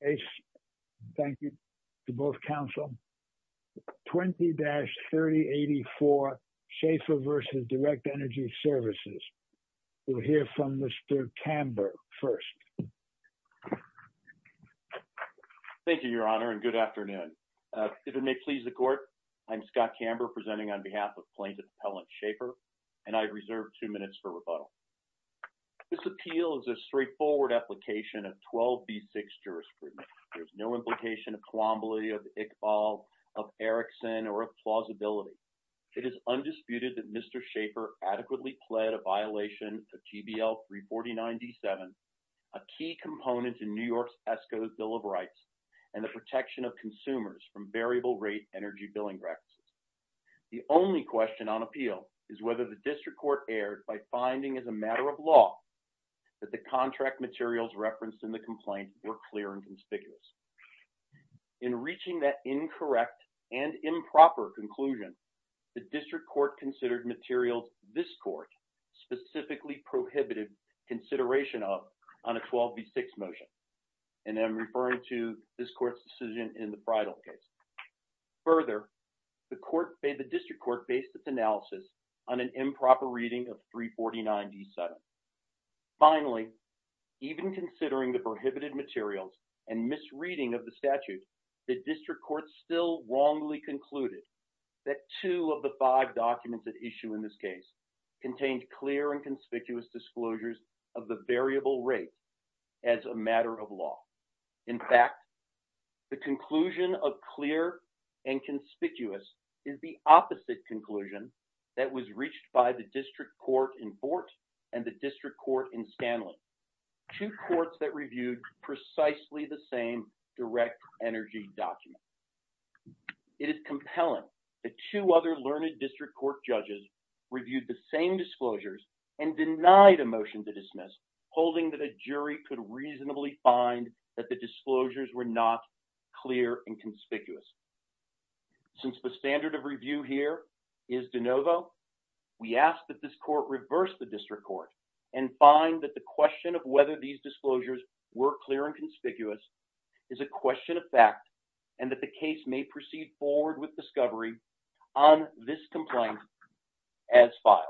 Thank you to both counsel. 20-3084 Schafer v. Direct Energy Services. We'll hear from Mr. Kamber first. Thank you, your honor, and good afternoon. If it may please the court, I'm Scott Kamber presenting on behalf of Plaintiff Appellant Schafer, and I reserve two minutes for rebuttal. This appeal is a straightforward application of 12b6 jurisprudence. There's no implication of Colomboly, of Iqbal, of Erickson, or of plausibility. It is undisputed that Mr. Schafer adequately pled a violation of GBL 349d7, a key component in New York's ESCO's Bill of Rights, and the protection of consumers from variable rate energy billing practices. The only question on appeal is whether the district court erred by finding as a matter of law that the contract materials referenced in the complaint were clear and conspicuous. In reaching that incorrect and improper conclusion, the district court considered materials this court specifically prohibited consideration of on a 12b6 motion, and I'm referring to this district court based its analysis on an improper reading of 349d7. Finally, even considering the prohibited materials and misreading of the statute, the district court still wrongly concluded that two of the five documents at issue in this case contained clear and conspicuous disclosures of the variable rate as a matter of law. In fact, the conclusion of clear and conspicuous is the opposite conclusion that was reached by the district court in Fort and the district court in Stanley, two courts that reviewed precisely the same direct energy document. It is compelling that two other learned district court judges reviewed the same disclosures and denied a motion to dismiss, holding that a jury could reasonably find that the disclosures were not clear and conspicuous. Since the standard of review here is de novo, we ask that this court reverse the district court and find that the question of whether these disclosures were clear and conspicuous is a question of fact and that the case may proceed forward with discovery on this complaint as filed.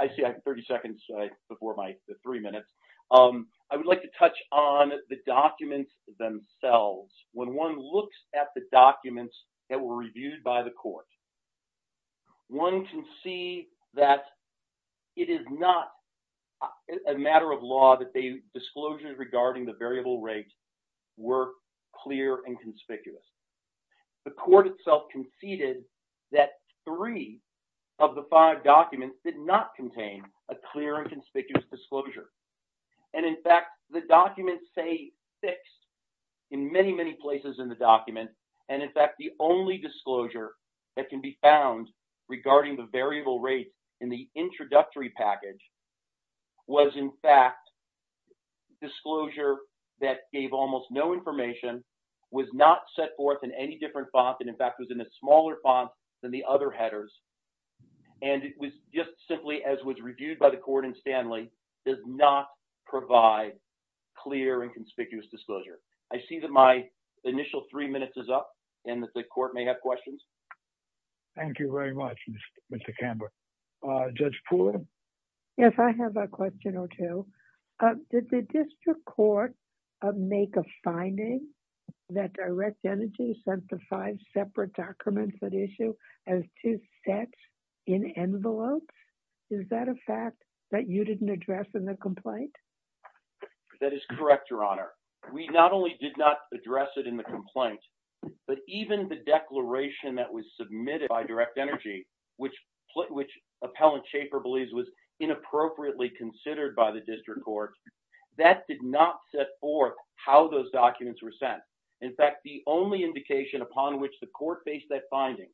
I would like to touch on the documents themselves. When one looks at the documents that were reviewed by the court, one can see that it is not a matter of law that the disclosures regarding the variable rate were clear and conspicuous. The court itself conceded that three of the five documents did not contain a clear and conspicuous disclosure. In fact, the documents say fixed in many, many places in the document. In fact, the only disclosure that can be found regarding the variable rate in the introductory package was, in fact, disclosure that gave almost no information, was not set forth in any different font, and in fact was in a smaller font than the other headers. And it was just simply, as was reviewed by the court in Stanley, does not provide clear and conspicuous disclosure. I see that my initial three minutes is up and that the court may have questions. Thank you very much, Mr. Camber. Judge Poole? Yes, I have a question or two. Did the district court make a finding that Direct Energy sent the five separate documents at issue as two sets in envelopes? Is that a fact that you didn't address in the complaint? That is correct, Your Honor. We not only did not address it in the complaint, but even the declaration that was submitted by Direct Energy, which Appellant Schaefer believes was inappropriately considered by the district court, that did not set forth how those documents were sent. In fact, the only indication upon which the court faced that finding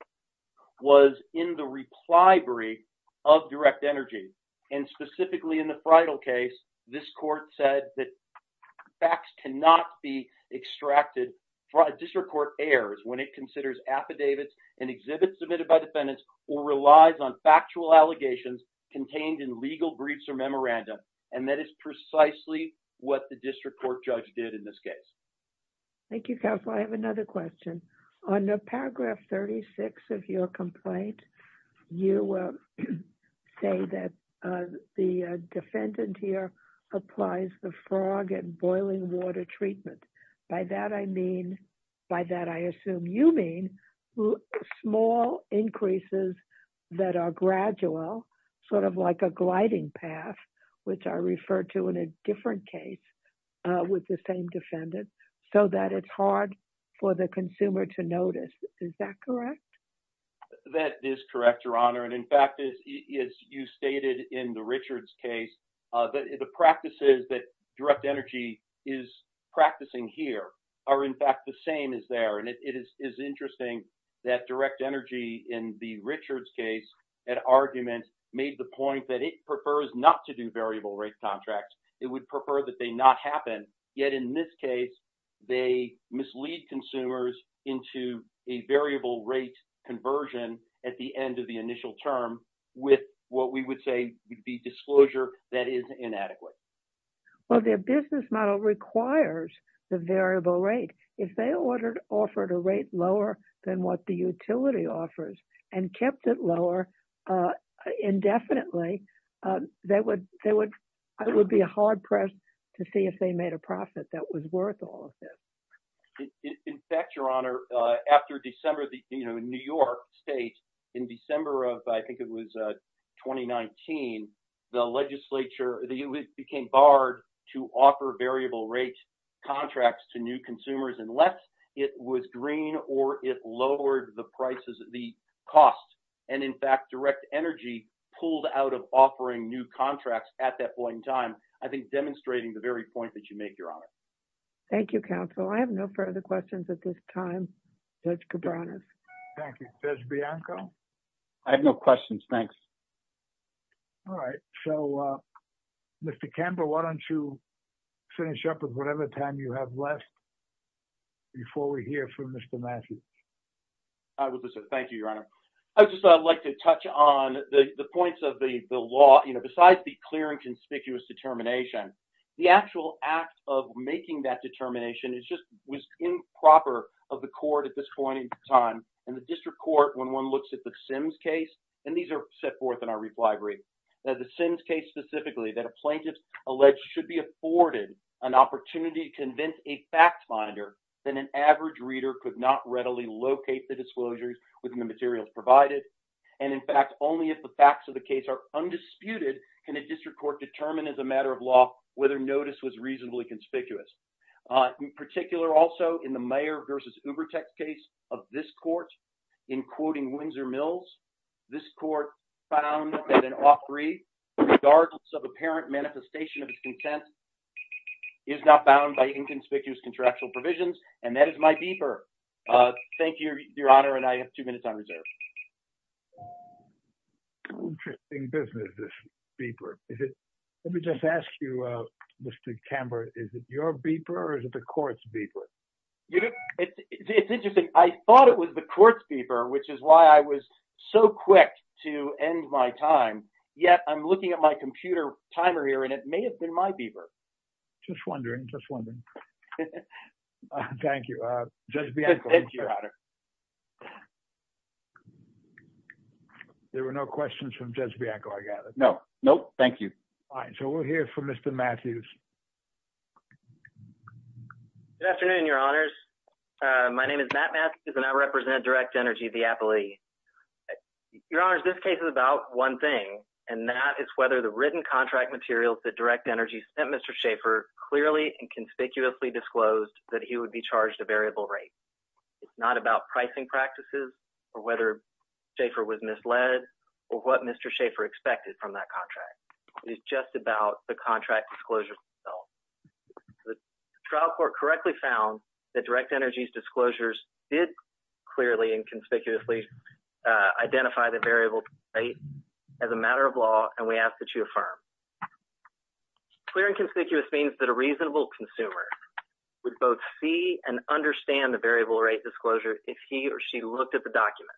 was in the reply brief of Direct Energy. And specifically in the Freidel case, this court said that facts cannot be extracted. District court errs when it considers affidavits and exhibits submitted by defendants or relies on factual allegations contained in legal briefs or memorandum. And that is precisely what the district court judge did in this case. Thank you, Counselor. I have another question. On paragraph 36 of your complaint, you say that the defendant here applies the frog and boiling water treatment. By that I mean, by that I assume you mean small increases that are gradual, sort of like a gliding path, which I referred to in a different case with the same defendant, so that it's hard for the consumer to notice. Is that correct? That is correct, Your Honor. And in fact, as you stated in the Richards case, the practices that Direct Energy is practicing here are in fact the same as there. And it is interesting that Direct Energy in the Richards case, that argument made the point that it prefers not to do variable rate contracts. It would prefer that they not happen. Yet in this case, they mislead consumers into a variable rate conversion at the end of the initial term with what we would say would be disclosure that is inadequate. Well, their business model requires the variable rate. If they ordered, offered a rate lower than what the utility offers and kept it lower indefinitely, they would be hard-pressed to see if they made a profit that was worth all of this. In fact, Your Honor, after December, New York State, in December of, I think it was 2019, the legislature, it became barred to offer variable rate contracts to new consumers unless it was green or it lowered the prices, the cost. And in fact, Direct Energy pulled out of offering new contracts at that point in time. I think demonstrating the very point that you make, Your Honor. Thank you, counsel. I have no further questions at this time. Judge Cabranas. Thank you. Judge Bianco. I have no questions. Thanks. All right. So, Mr. Campbell, why don't you finish up with whatever time you have left. Before we hear from Mr. Matthews. I would like to say thank you, Your Honor. I would just like to touch on the points of the law, you know, besides the clear and conspicuous determination, the actual act of making that determination is just, was improper of the court at this point in time. And the district court, when one looks at the Sims case, and these are set forth in our refinery, the Sims case specifically that a plaintiff alleged should be afforded an opportunity to convince a fact monitor that an average reader could not readily locate the disclosures within the materials provided. And in fact, only if the facts of the case are undisputed, can a district court determine as a matter of law, whether notice was reasonably conspicuous. In particular, also in the Mayer versus Ubertex case of this court, in quoting Windsor Mills, this court found that an offeree, regardless of apparent manifestation of his content, is not bound by inconspicuous contractual provisions. And that is my beeper. Thank you, Your Honor. And I have two minutes on reserve. Interesting business, this beeper. Let me just ask you, Mr. Camber, is it your beeper or is it the court's beeper? It's interesting. I thought it was the court's beeper, which is why I was so quick to end my time. Yet I'm looking at my beeper. Just wondering, just wondering. Thank you, Judge Bianco. Thank you, Your Honor. There were no questions from Judge Bianco, I gather. No. Nope. Thank you. All right. So we'll hear from Mr. Matthews. Good afternoon, Your Honors. My name is Matt Matthews and I represent Direct Energy of the Appellee. Your Honors, this case is about one thing, and that is whether the written contract materials that Direct Energy sent Mr. Schaefer clearly and conspicuously disclosed that he would be charged a variable rate. It's not about pricing practices or whether Schaefer was misled or what Mr. Schaefer expected from that contract. It is just about the contract disclosure itself. The trial court correctly found that Direct Energy's disclosures did clearly and conspicuously identify the variable rate as a matter of law, and we ask that you affirm. Clear and conspicuous means that a reasonable consumer would both see and understand the variable rate disclosure if he or she looked at the document.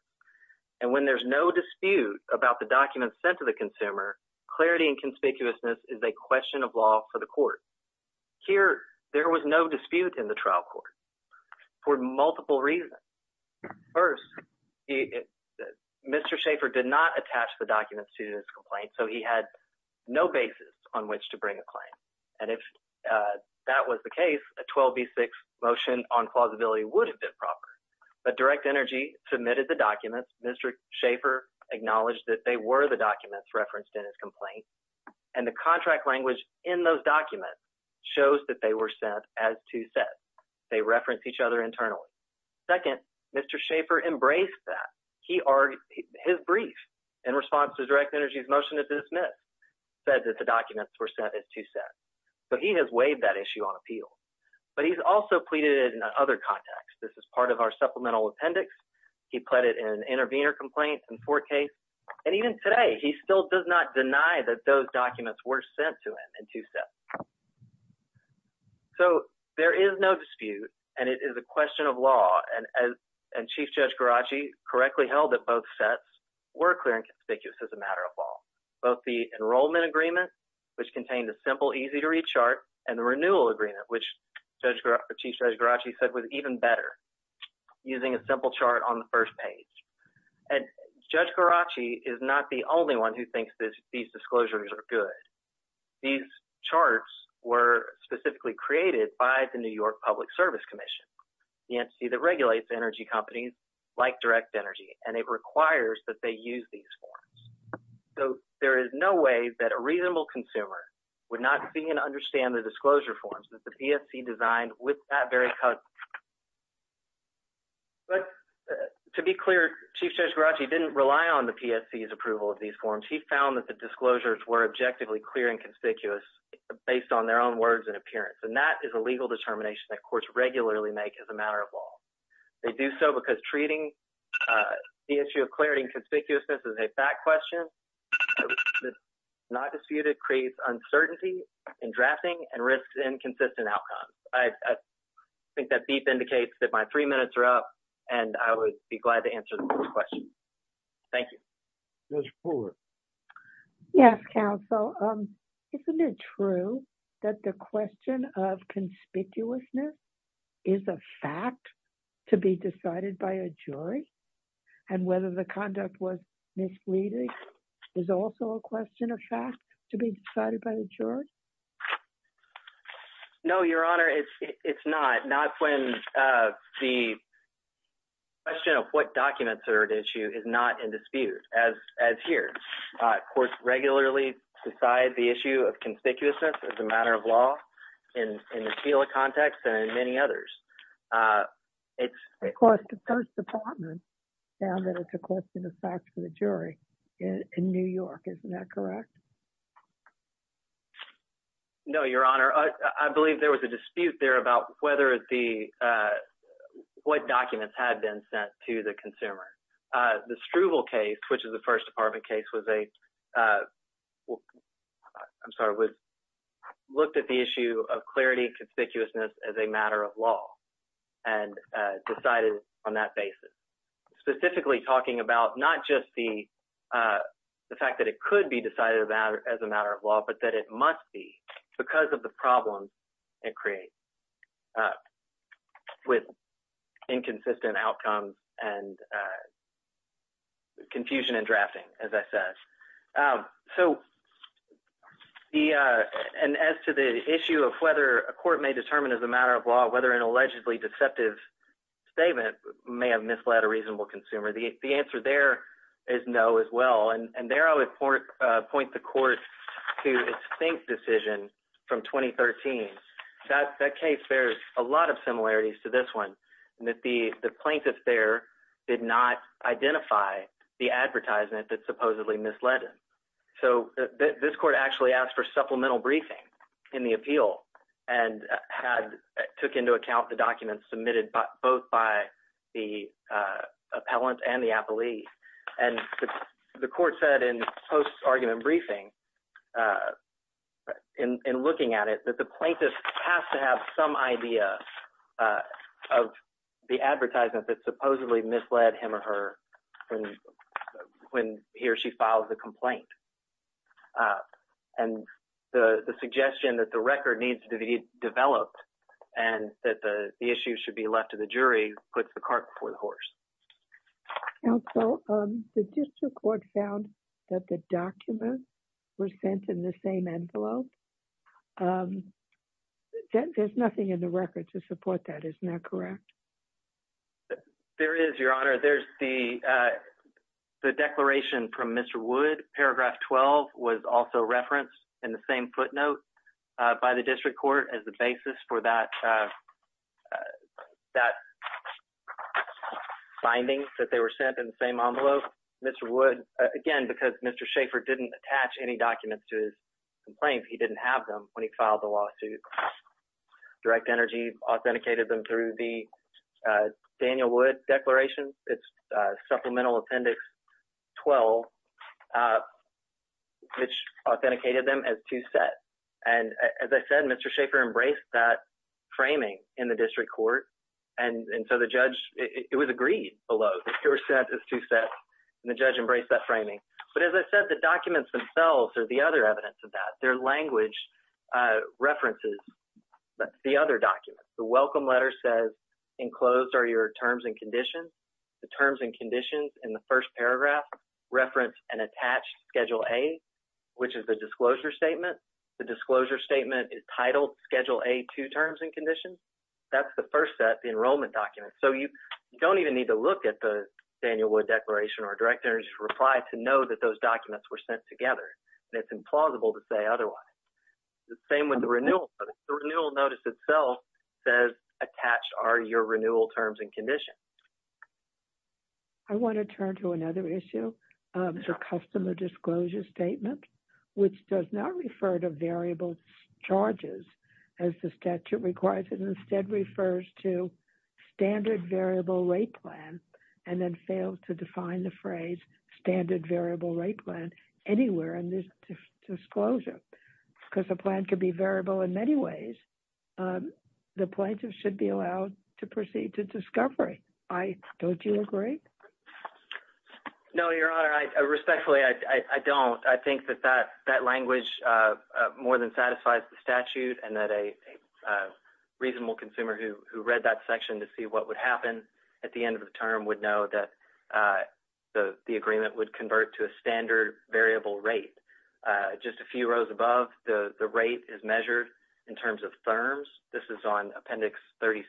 And when there's no dispute about the document sent to the consumer, clarity and conspicuousness is a question of law for the court. Here, there was no dispute in the trial court for multiple reasons. First, Mr. Schaefer did not attach the documents to his complaint, so he had no basis on which to bring a claim. And if that was the case, a 12B6 motion on plausibility would have been proper, but Direct Energy submitted the documents. Mr. Schaefer acknowledged that they were the documents referenced in his complaint, and the contract language in those documents shows that they were sent as two sets. They reference each other internally. Second, Mr. Schaefer embraced that. He argued his brief in response to Direct Energy's motion to dismiss said that the documents were sent as two sets, so he has waived that issue on appeal. But he's also pleaded in other contexts. This is part of our supplemental appendix. He pleaded in intervener complaints in fourth case, and even today, he still does not deny that those documents were sent to him in two sets. So, there is no dispute, and it is a question of law, and Chief Judge Garacci correctly held that both sets were clear and conspicuous as a matter of law. Both the enrollment agreement, which contained a simple, easy-to-read chart, and the renewal agreement, which Chief Judge Garacci said was even better, using a simple chart on the first page. And Judge Garacci is not the only one who believes these disclosures are good. These charts were specifically created by the New York Public Service Commission, the entity that regulates energy companies like Direct Energy, and it requires that they use these forms. So, there is no way that a reasonable consumer would not see and understand the disclosure forms that the PSC designed with that very cut. But to be clear, Chief Judge Garacci didn't rely on the PSC's approval of these forms. He found that the disclosures were objectively clear and conspicuous based on their own words and appearance, and that is a legal determination that courts regularly make as a matter of law. They do so because treating the issue of clarity and conspicuousness as a fact question that's not disputed creates uncertainty in drafting and risks inconsistent outcomes. I think that beef indicates that my three minutes are up, and I would be glad to answer the next question. Thank you. Yes, Counsel. Isn't it true that the question of conspicuousness is a fact to be decided by a jury, and whether the conduct was misleading is also a question of fact to be decided by a jury? No, Your Honor, it's not. Not when the question of what documents are at issue is not in dispute, as here. Courts regularly decide the issue of conspicuousness as a matter of law in the SILA context and in many others. Of course, the First Department found that it's a question of fact for the jury in New York. Isn't that correct? No, Your Honor. I believe there was a dispute there about whether the what documents had been sent to the consumer. The Struvel case, which is a First Department case, I'm sorry, looked at the issue of clarity and conspicuousness as a matter of law and decided on that basis, specifically talking about not just the fact that it could be decided as a matter of law, but that it must be because of the problems it creates with inconsistent outcomes and confusion in drafting, as I said. And as to the issue of whether a court may determine as a matter of law whether an allegedly deceptive statement may have misled a reasonable consumer, the answer there is no as well. And there I would point the court to its FINK decision from 2013. That case bears a lot of similarities to this one in that the plaintiffs there did not identify the advertisement that supposedly misled them. So this court actually asked for supplemental briefing in the appeal and took into account the documents submitted both by the appellant and the appellee. And the court said in post-argument briefing, in looking at it, that the plaintiff has to have some idea of the advertisement that supposedly misled him or her when he or she filed the case. And that the issue should be left to the jury who puts the cart before the horse. Counsel, the district court found that the documents were sent in the same envelope. There's nothing in the record to support that. Isn't that correct? There is, Your Honor. There's the declaration from Mr. Wood. Paragraph 12 was also referenced in the same footnote by the district court as the basis for that finding that they were sent in the same envelope. Mr. Wood, again, because Mr. Schaeffer didn't attach any documents to his complaints, he didn't have them when he filed the lawsuit. Direct Energy authenticated them through the Daniel Wood Declaration. It's Supplemental 12, which authenticated them as two sets. And as I said, Mr. Schaeffer embraced that framing in the district court. And so the judge, it was agreed below. They were sent as two sets, and the judge embraced that framing. But as I said, the documents themselves are the other evidence of that. Their language references the other documents. The welcome letter says, enclosed are your terms and conditions. The terms and conditions in the first paragraph reference an attached Schedule A, which is the disclosure statement. The disclosure statement is titled Schedule A, two terms and conditions. That's the first set, the enrollment documents. So you don't even need to look at the Daniel Wood Declaration or Direct Energy's reply to know that those documents were sent together. And it's implausible to say otherwise. The same with the renewal terms and conditions. I want to turn to another issue, the customer disclosure statement, which does not refer to variable charges as the statute requires. It instead refers to standard variable rate plan, and then failed to define the phrase standard variable rate plan anywhere in this disclosure. Because the plan could be variable in many ways, the plaintiff should be allowed to proceed to discovery. Don't you agree? No, Your Honor. Respectfully, I don't. I think that that language more than satisfies the statute and that a reasonable consumer who read that section to see what would happen at the end of the term would know that the agreement would convert to a standard variable rate. Just a in terms of terms, this is on Appendix 36,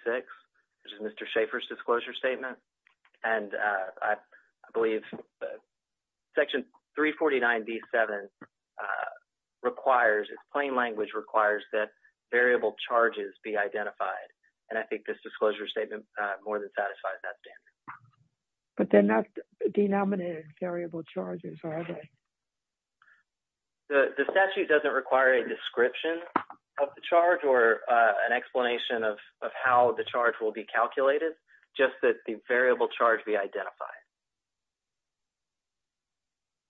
which is Mr. Schaeffer's disclosure statement. And I believe that Section 349 D7 requires, its plain language requires that variable charges be identified. And I think this disclosure statement more than satisfies that standard. But they're not denominated variable charges, are they? No. The statute doesn't require a description of the charge or an explanation of how the charge will be calculated, just that the variable charge be identified.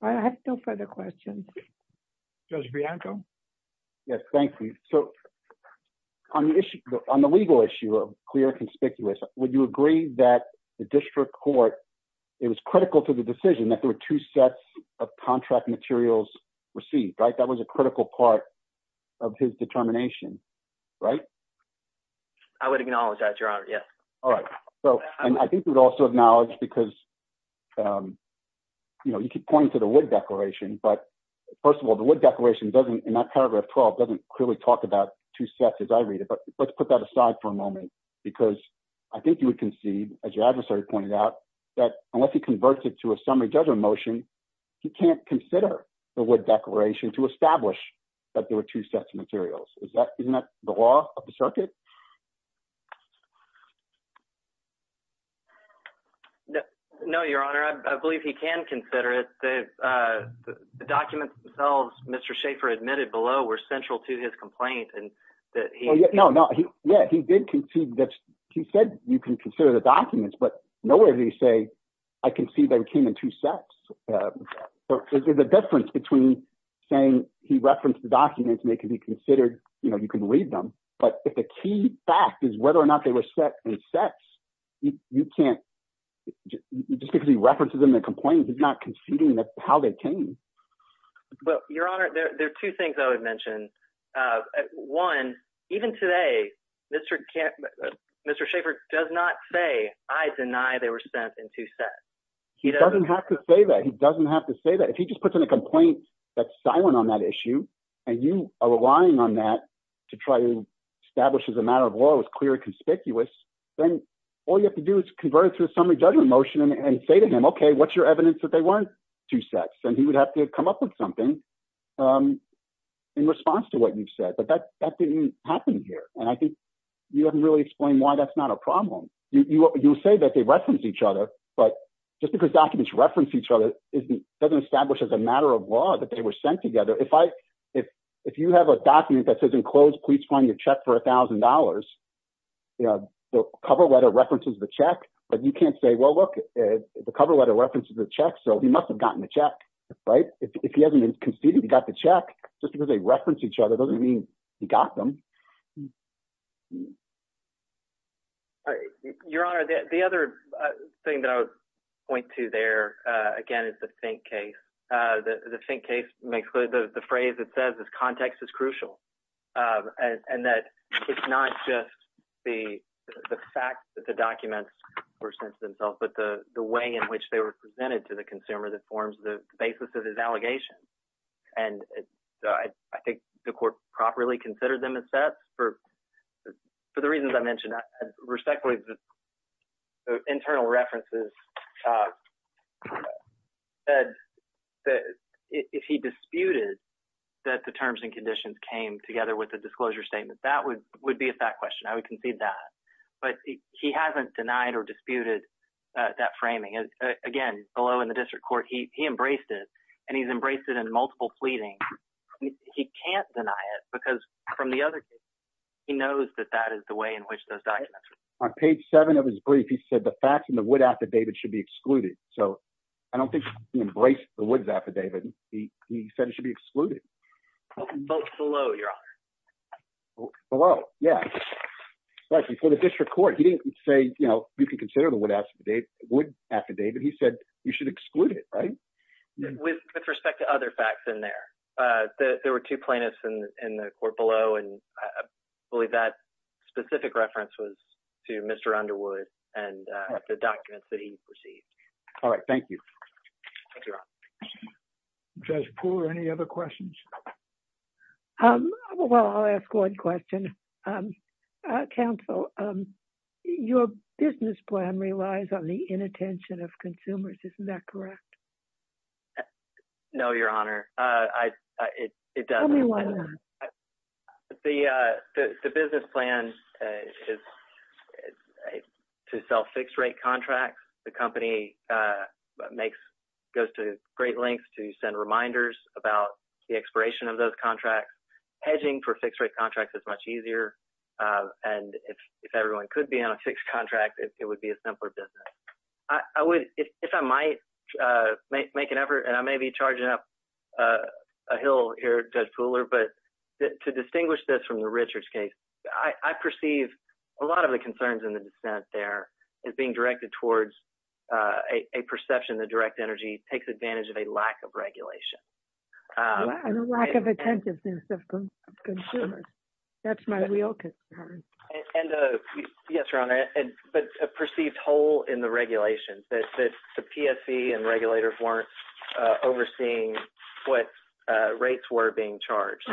I have no further questions. Judge Bianco? Yes, thank you. So on the legal issue of clear conspicuous, would you agree that the district court, it was critical to the decision that there were two sets of contract materials received, right? That was a critical part of his determination, right? I would acknowledge that, Your Honor. Yes. All right. So, and I think we'd also acknowledge because, you know, you keep pointing to the wood declaration, but first of all, the wood declaration doesn't, in that paragraph 12, doesn't clearly talk about two sets as I read it. But let's put that aside for a moment, because I think you would concede, as your adversary pointed out, that unless he converts it to a summary judgment motion, he can't consider the wood declaration to establish that there were two sets of materials. Isn't that the law of the circuit? No, Your Honor. I believe he can consider it. The documents themselves Mr. Schaffer admitted below were central to his complaint and that he... No, no. Yeah, he did concede that he said you can consider the documents, but nowhere did he say, I concede that it came in two sets. There's a difference between saying he referenced the documents and they can be considered, you know, you can read them. But if the key fact is whether or not they were set in sets, you can't, just because he references them in the complaint, he's not conceding how they came. Well, Your Honor, there are two things I would mention. One, even today, Mr. Schaffer does not say, I deny they were sent in two sets. He doesn't have to say that. He doesn't have to say that. If he just puts in a complaint that's silent on that issue, and you are relying on that to try to establish as a matter of law it was clear and conspicuous, then all you have to do is convert it to a summary judgment motion and say to him, okay, what's your evidence that they weren't two sets? And he would have to come up with something in response to what you've said. But that didn't happen here. And I think you haven't really explained why that's not a problem. You say that they reference each other, but just because documents reference each other, doesn't establish as a matter of law that they were sent together. If you have a document that says enclosed police finding a check for $1,000, the cover letter references the check, but you must have gotten the check. If he hasn't conceded he got the check, just because they reference each other doesn't mean he got them. Your Honor, the other thing that I would point to there, again, is the think case. The think case, the phrase that says this context is crucial. And that it's not just the fact that the documents were sent to themselves, but the way in which they were presented to the consumer that forms the basis of his allegation. And I think the court properly considered them as sets for the reasons I mentioned. Respectfully, the internal references said that if he disputed that the terms and conditions came together with the disclosure statement, that would be a fact question. I haven't denied or disputed that framing. Again, below in the district court, he embraced it, and he's embraced it in multiple pleadings. He can't deny it because from the other case, he knows that that is the way in which those documents were sent. On page seven of his brief, he said the facts in the Wood affidavit should be excluded. So I don't think he embraced the Woods affidavit. He said it should be excluded. Vote below, Your Honor. Vote below, yeah. For the district court, he didn't say you can consider the Wood affidavit. He said you should exclude it, right? With respect to other facts in there, there were two plaintiffs in the court below, and I believe that specific reference was to Mr. Underwood and the documents that he received. All right. Thank you. Judge Poole, any other questions? Well, I'll ask one question. Counsel, your business plan relies on the inattention of consumers. Isn't that correct? No, Your Honor. It doesn't. Tell me why not. The business plan is to sell fixed-rate contracts. The company goes to great lengths to send reminders about the expiration of those contracts. Hedging for fixed-rate contracts is much easier. If everyone could be on a fixed contract, it would be a simpler business. If I might make an effort, and I may be charging up a hill here, Judge Poole, but to distinguish this from the Richards case, I perceive a lot of the concerns in the dissent there as being directed towards a perception that direct energy takes advantage of a lack of regulation. And a lack of attentiveness of consumers. That's my real concern. Yes, Your Honor. But a perceived hole in the regulations that the PSC and regulators weren't overseeing what rates were being charged.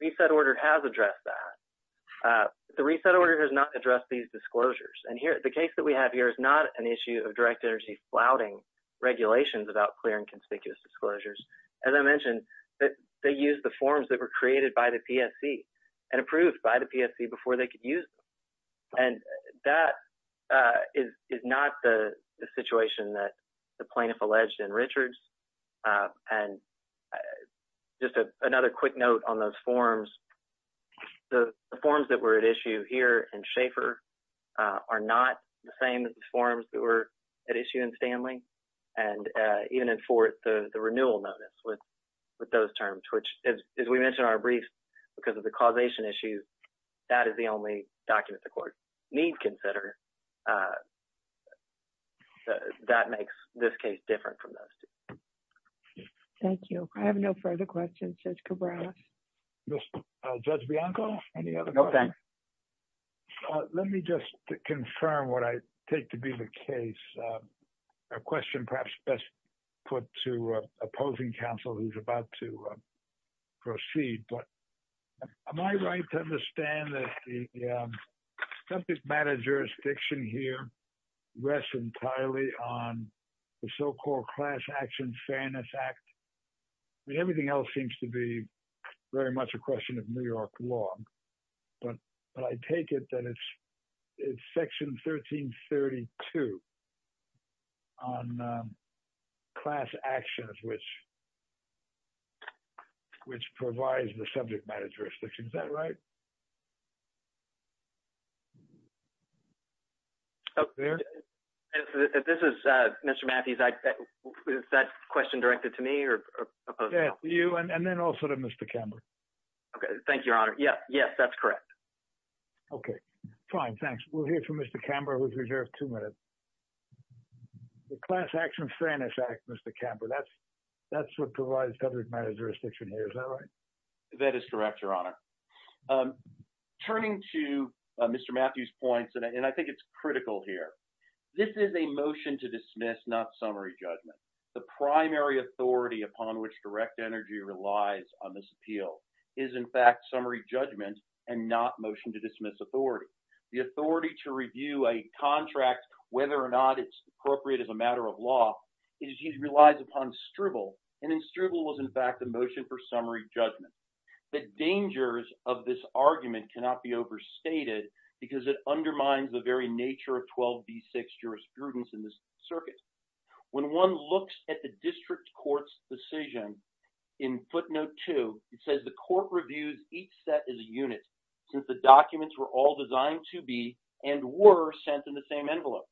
Reset Order has addressed that. The Reset Order has not addressed these disclosures. And the case that we have here is not an issue of direct flouting regulations about clear and conspicuous disclosures. As I mentioned, they used the forms that were created by the PSC and approved by the PSC before they could use them. And that is not the situation that the plaintiff alleged in Richards. And just another quick note on those issues. I have no further questions, Judge Cabrera. Mr. Judge Bianco? Let me just confirm what I take to be the case. A question perhaps best put to opposing counsel who's about to proceed. But am I right to understand that the subject matter jurisdiction here rests entirely on the so-called Class Action Fairness Act? Everything else seems to be very much a question of New York law. But I take it that it's Section 1332 on class actions which provides the subject matter jurisdiction. Is that right? This is Mr. Matthews. Is that question directed to me or opposed? Yes, to you and then also to Mr. Camber. Okay. Thank you, Your Honor. Yes, that's correct. Okay. Fine. Thanks. We'll hear from Mr. Camber who's reserved two minutes. The Class Action Fairness Act, Mr. Camber, that's what provides subject matter jurisdiction here. That is correct, Your Honor. Turning to Mr. Matthews' points, and I think it's critical here, this is a motion to dismiss, not summary judgment. The primary authority upon which direct energy relies on this appeal is, in fact, summary judgment and not motion to dismiss authority. The authority to review a contract, whether or not it's appropriate as a matter of judgment. The dangers of this argument cannot be overstated because it undermines the very nature of 12b6 jurisprudence in this circuit. When one looks at the district court's decision in footnote 2, it says the court reviews each set as a unit since the documents were all designed to be and were sent in the same envelope.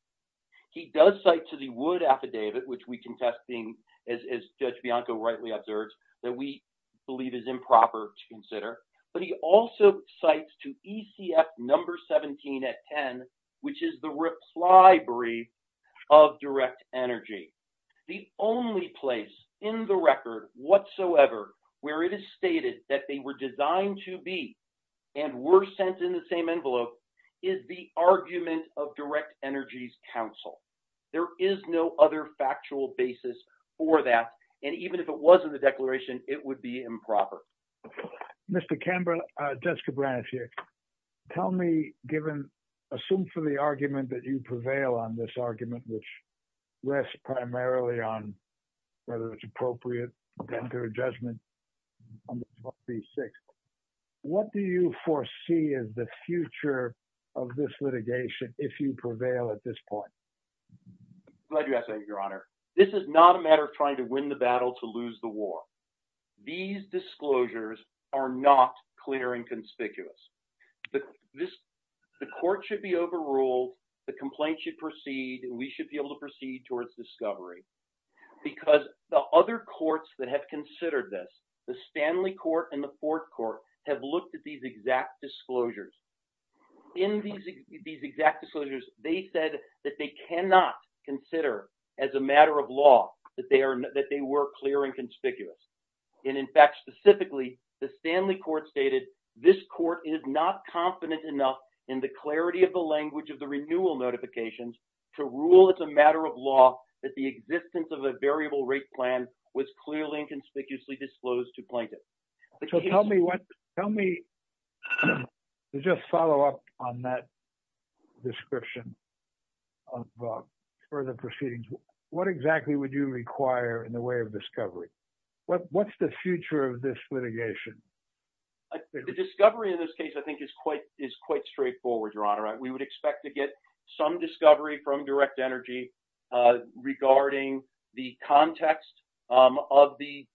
He does cite to the Wood Affidavit, which we contest as Judge Bianco rightly observes, that we believe is improper to consider, but he also cites to ECF number 17 at 10, which is the Rip's Library of direct energy. The only place in the record whatsoever where it is stated that they were designed to be and were sent in the envelope is the argument of direct energy's counsel. There is no other factual basis for that, and even if it was in the declaration, it would be improper. Mr. Camber, Jessica Branisch here. Tell me, given, assume for the argument that you prevail on this argument, which rests primarily on whether it's appropriate to enter a judgment on 12b6, what do you foresee as the future of this litigation if you prevail at this point? Glad you asked that, your honor. This is not a matter of trying to win the battle to lose the war. These disclosures are not clear and conspicuous. The court should be overruled, the complaint should proceed, and we should be able to proceed towards discovery, because the other courts that have considered this, the Stanley Court and the Fourth Court, have looked at these exact disclosures. In these exact disclosures, they said that they cannot consider as a matter of law that they were clear and conspicuous, and in fact, specifically, the Stanley Court stated this court is not confident enough in the clarity of the language of the renewal notifications to rule it's a matter of law that the existence of a variable rate plan was clearly and conspicuously disclosed to plaintiffs. Tell me, to just follow up on that description of further proceedings, what exactly would you require in the way of discovery? What's the future of this litigation? The discovery in this case, I think, is quite straightforward, Your Honor. We would expect to get some discovery from DirectEnergy regarding the context of these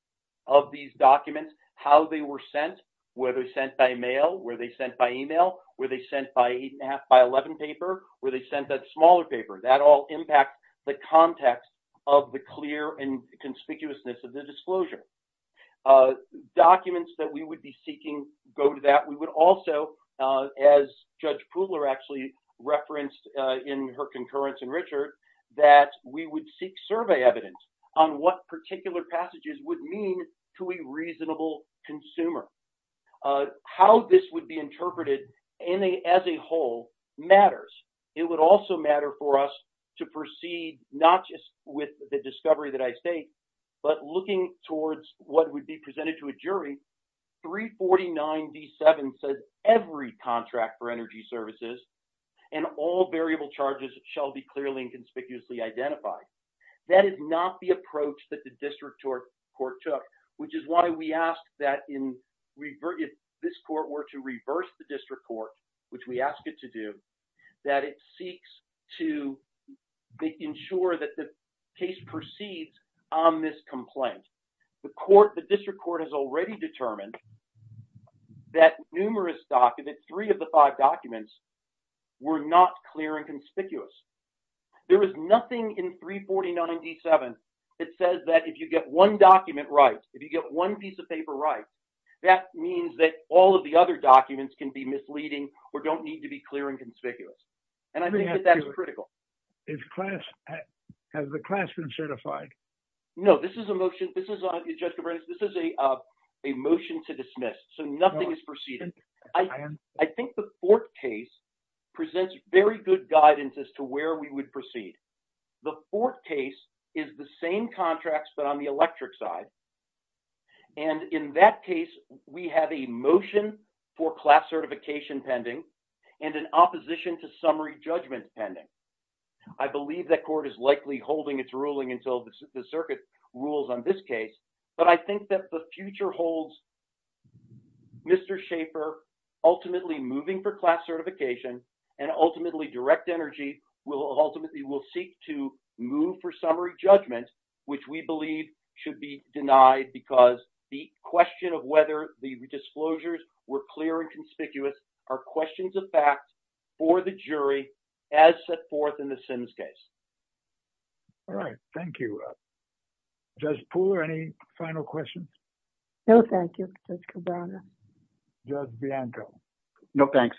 documents, how they were sent, were they sent by mail, were they sent by email, were they sent by 8 1⁄2 by 11 paper, were they sent by smaller paper. That all impacts the context of the clear and conspicuousness of the disclosure. The documents that we would be seeking go to that. We would also, as Judge Pudler actually referenced in her concurrence in Richard, that we would seek survey evidence on what particular passages would mean to a reasonable consumer. How this would be interpreted as a whole matters. It would also matter for us to proceed not just with the discovery that I state, but looking towards what would be presented to a jury. 349 D7 says every contract for energy services and all variable charges shall be clearly and conspicuously identified. That is not the approach that the district court took, which is why we ask that if this court were to reverse the district court, which we ask it to do, that it seeks to ensure that the case proceeds on this complaint. The district court has already determined that numerous documents, three of the five documents, were not clear and conspicuous. There is nothing in 349 D7 that says that if you get one document right, if you get one piece of paper right, that means that all of the other documents can be misleading or don't need to be clear and conspicuous. And I think that that's critical. Has the class been certified? No, this is a motion to dismiss. So nothing is proceeded. I think the fourth case presents very good guidance as to where we would proceed. The fourth case is the same contracts, but on the summary judgment pending. I believe that court is likely holding its ruling until the circuit rules on this case, but I think that the future holds Mr. Schaefer ultimately moving for class certification and ultimately direct energy will ultimately will seek to move for summary judgment, which we believe should be denied because the question of whether the disclosures were clear conspicuous are questions of fact for the jury as set forth in the Sims case. All right, thank you. Judge Poole, any final questions? No, thank you, Judge Cabrera. Judge Bianco? No, thanks.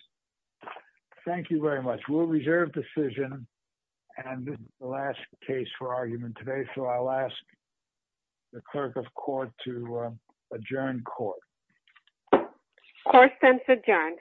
Thank you very much. We'll reserve decision and this is the last case for argument today. So I'll ask the clerk of court to adjourn court. Court is adjourned.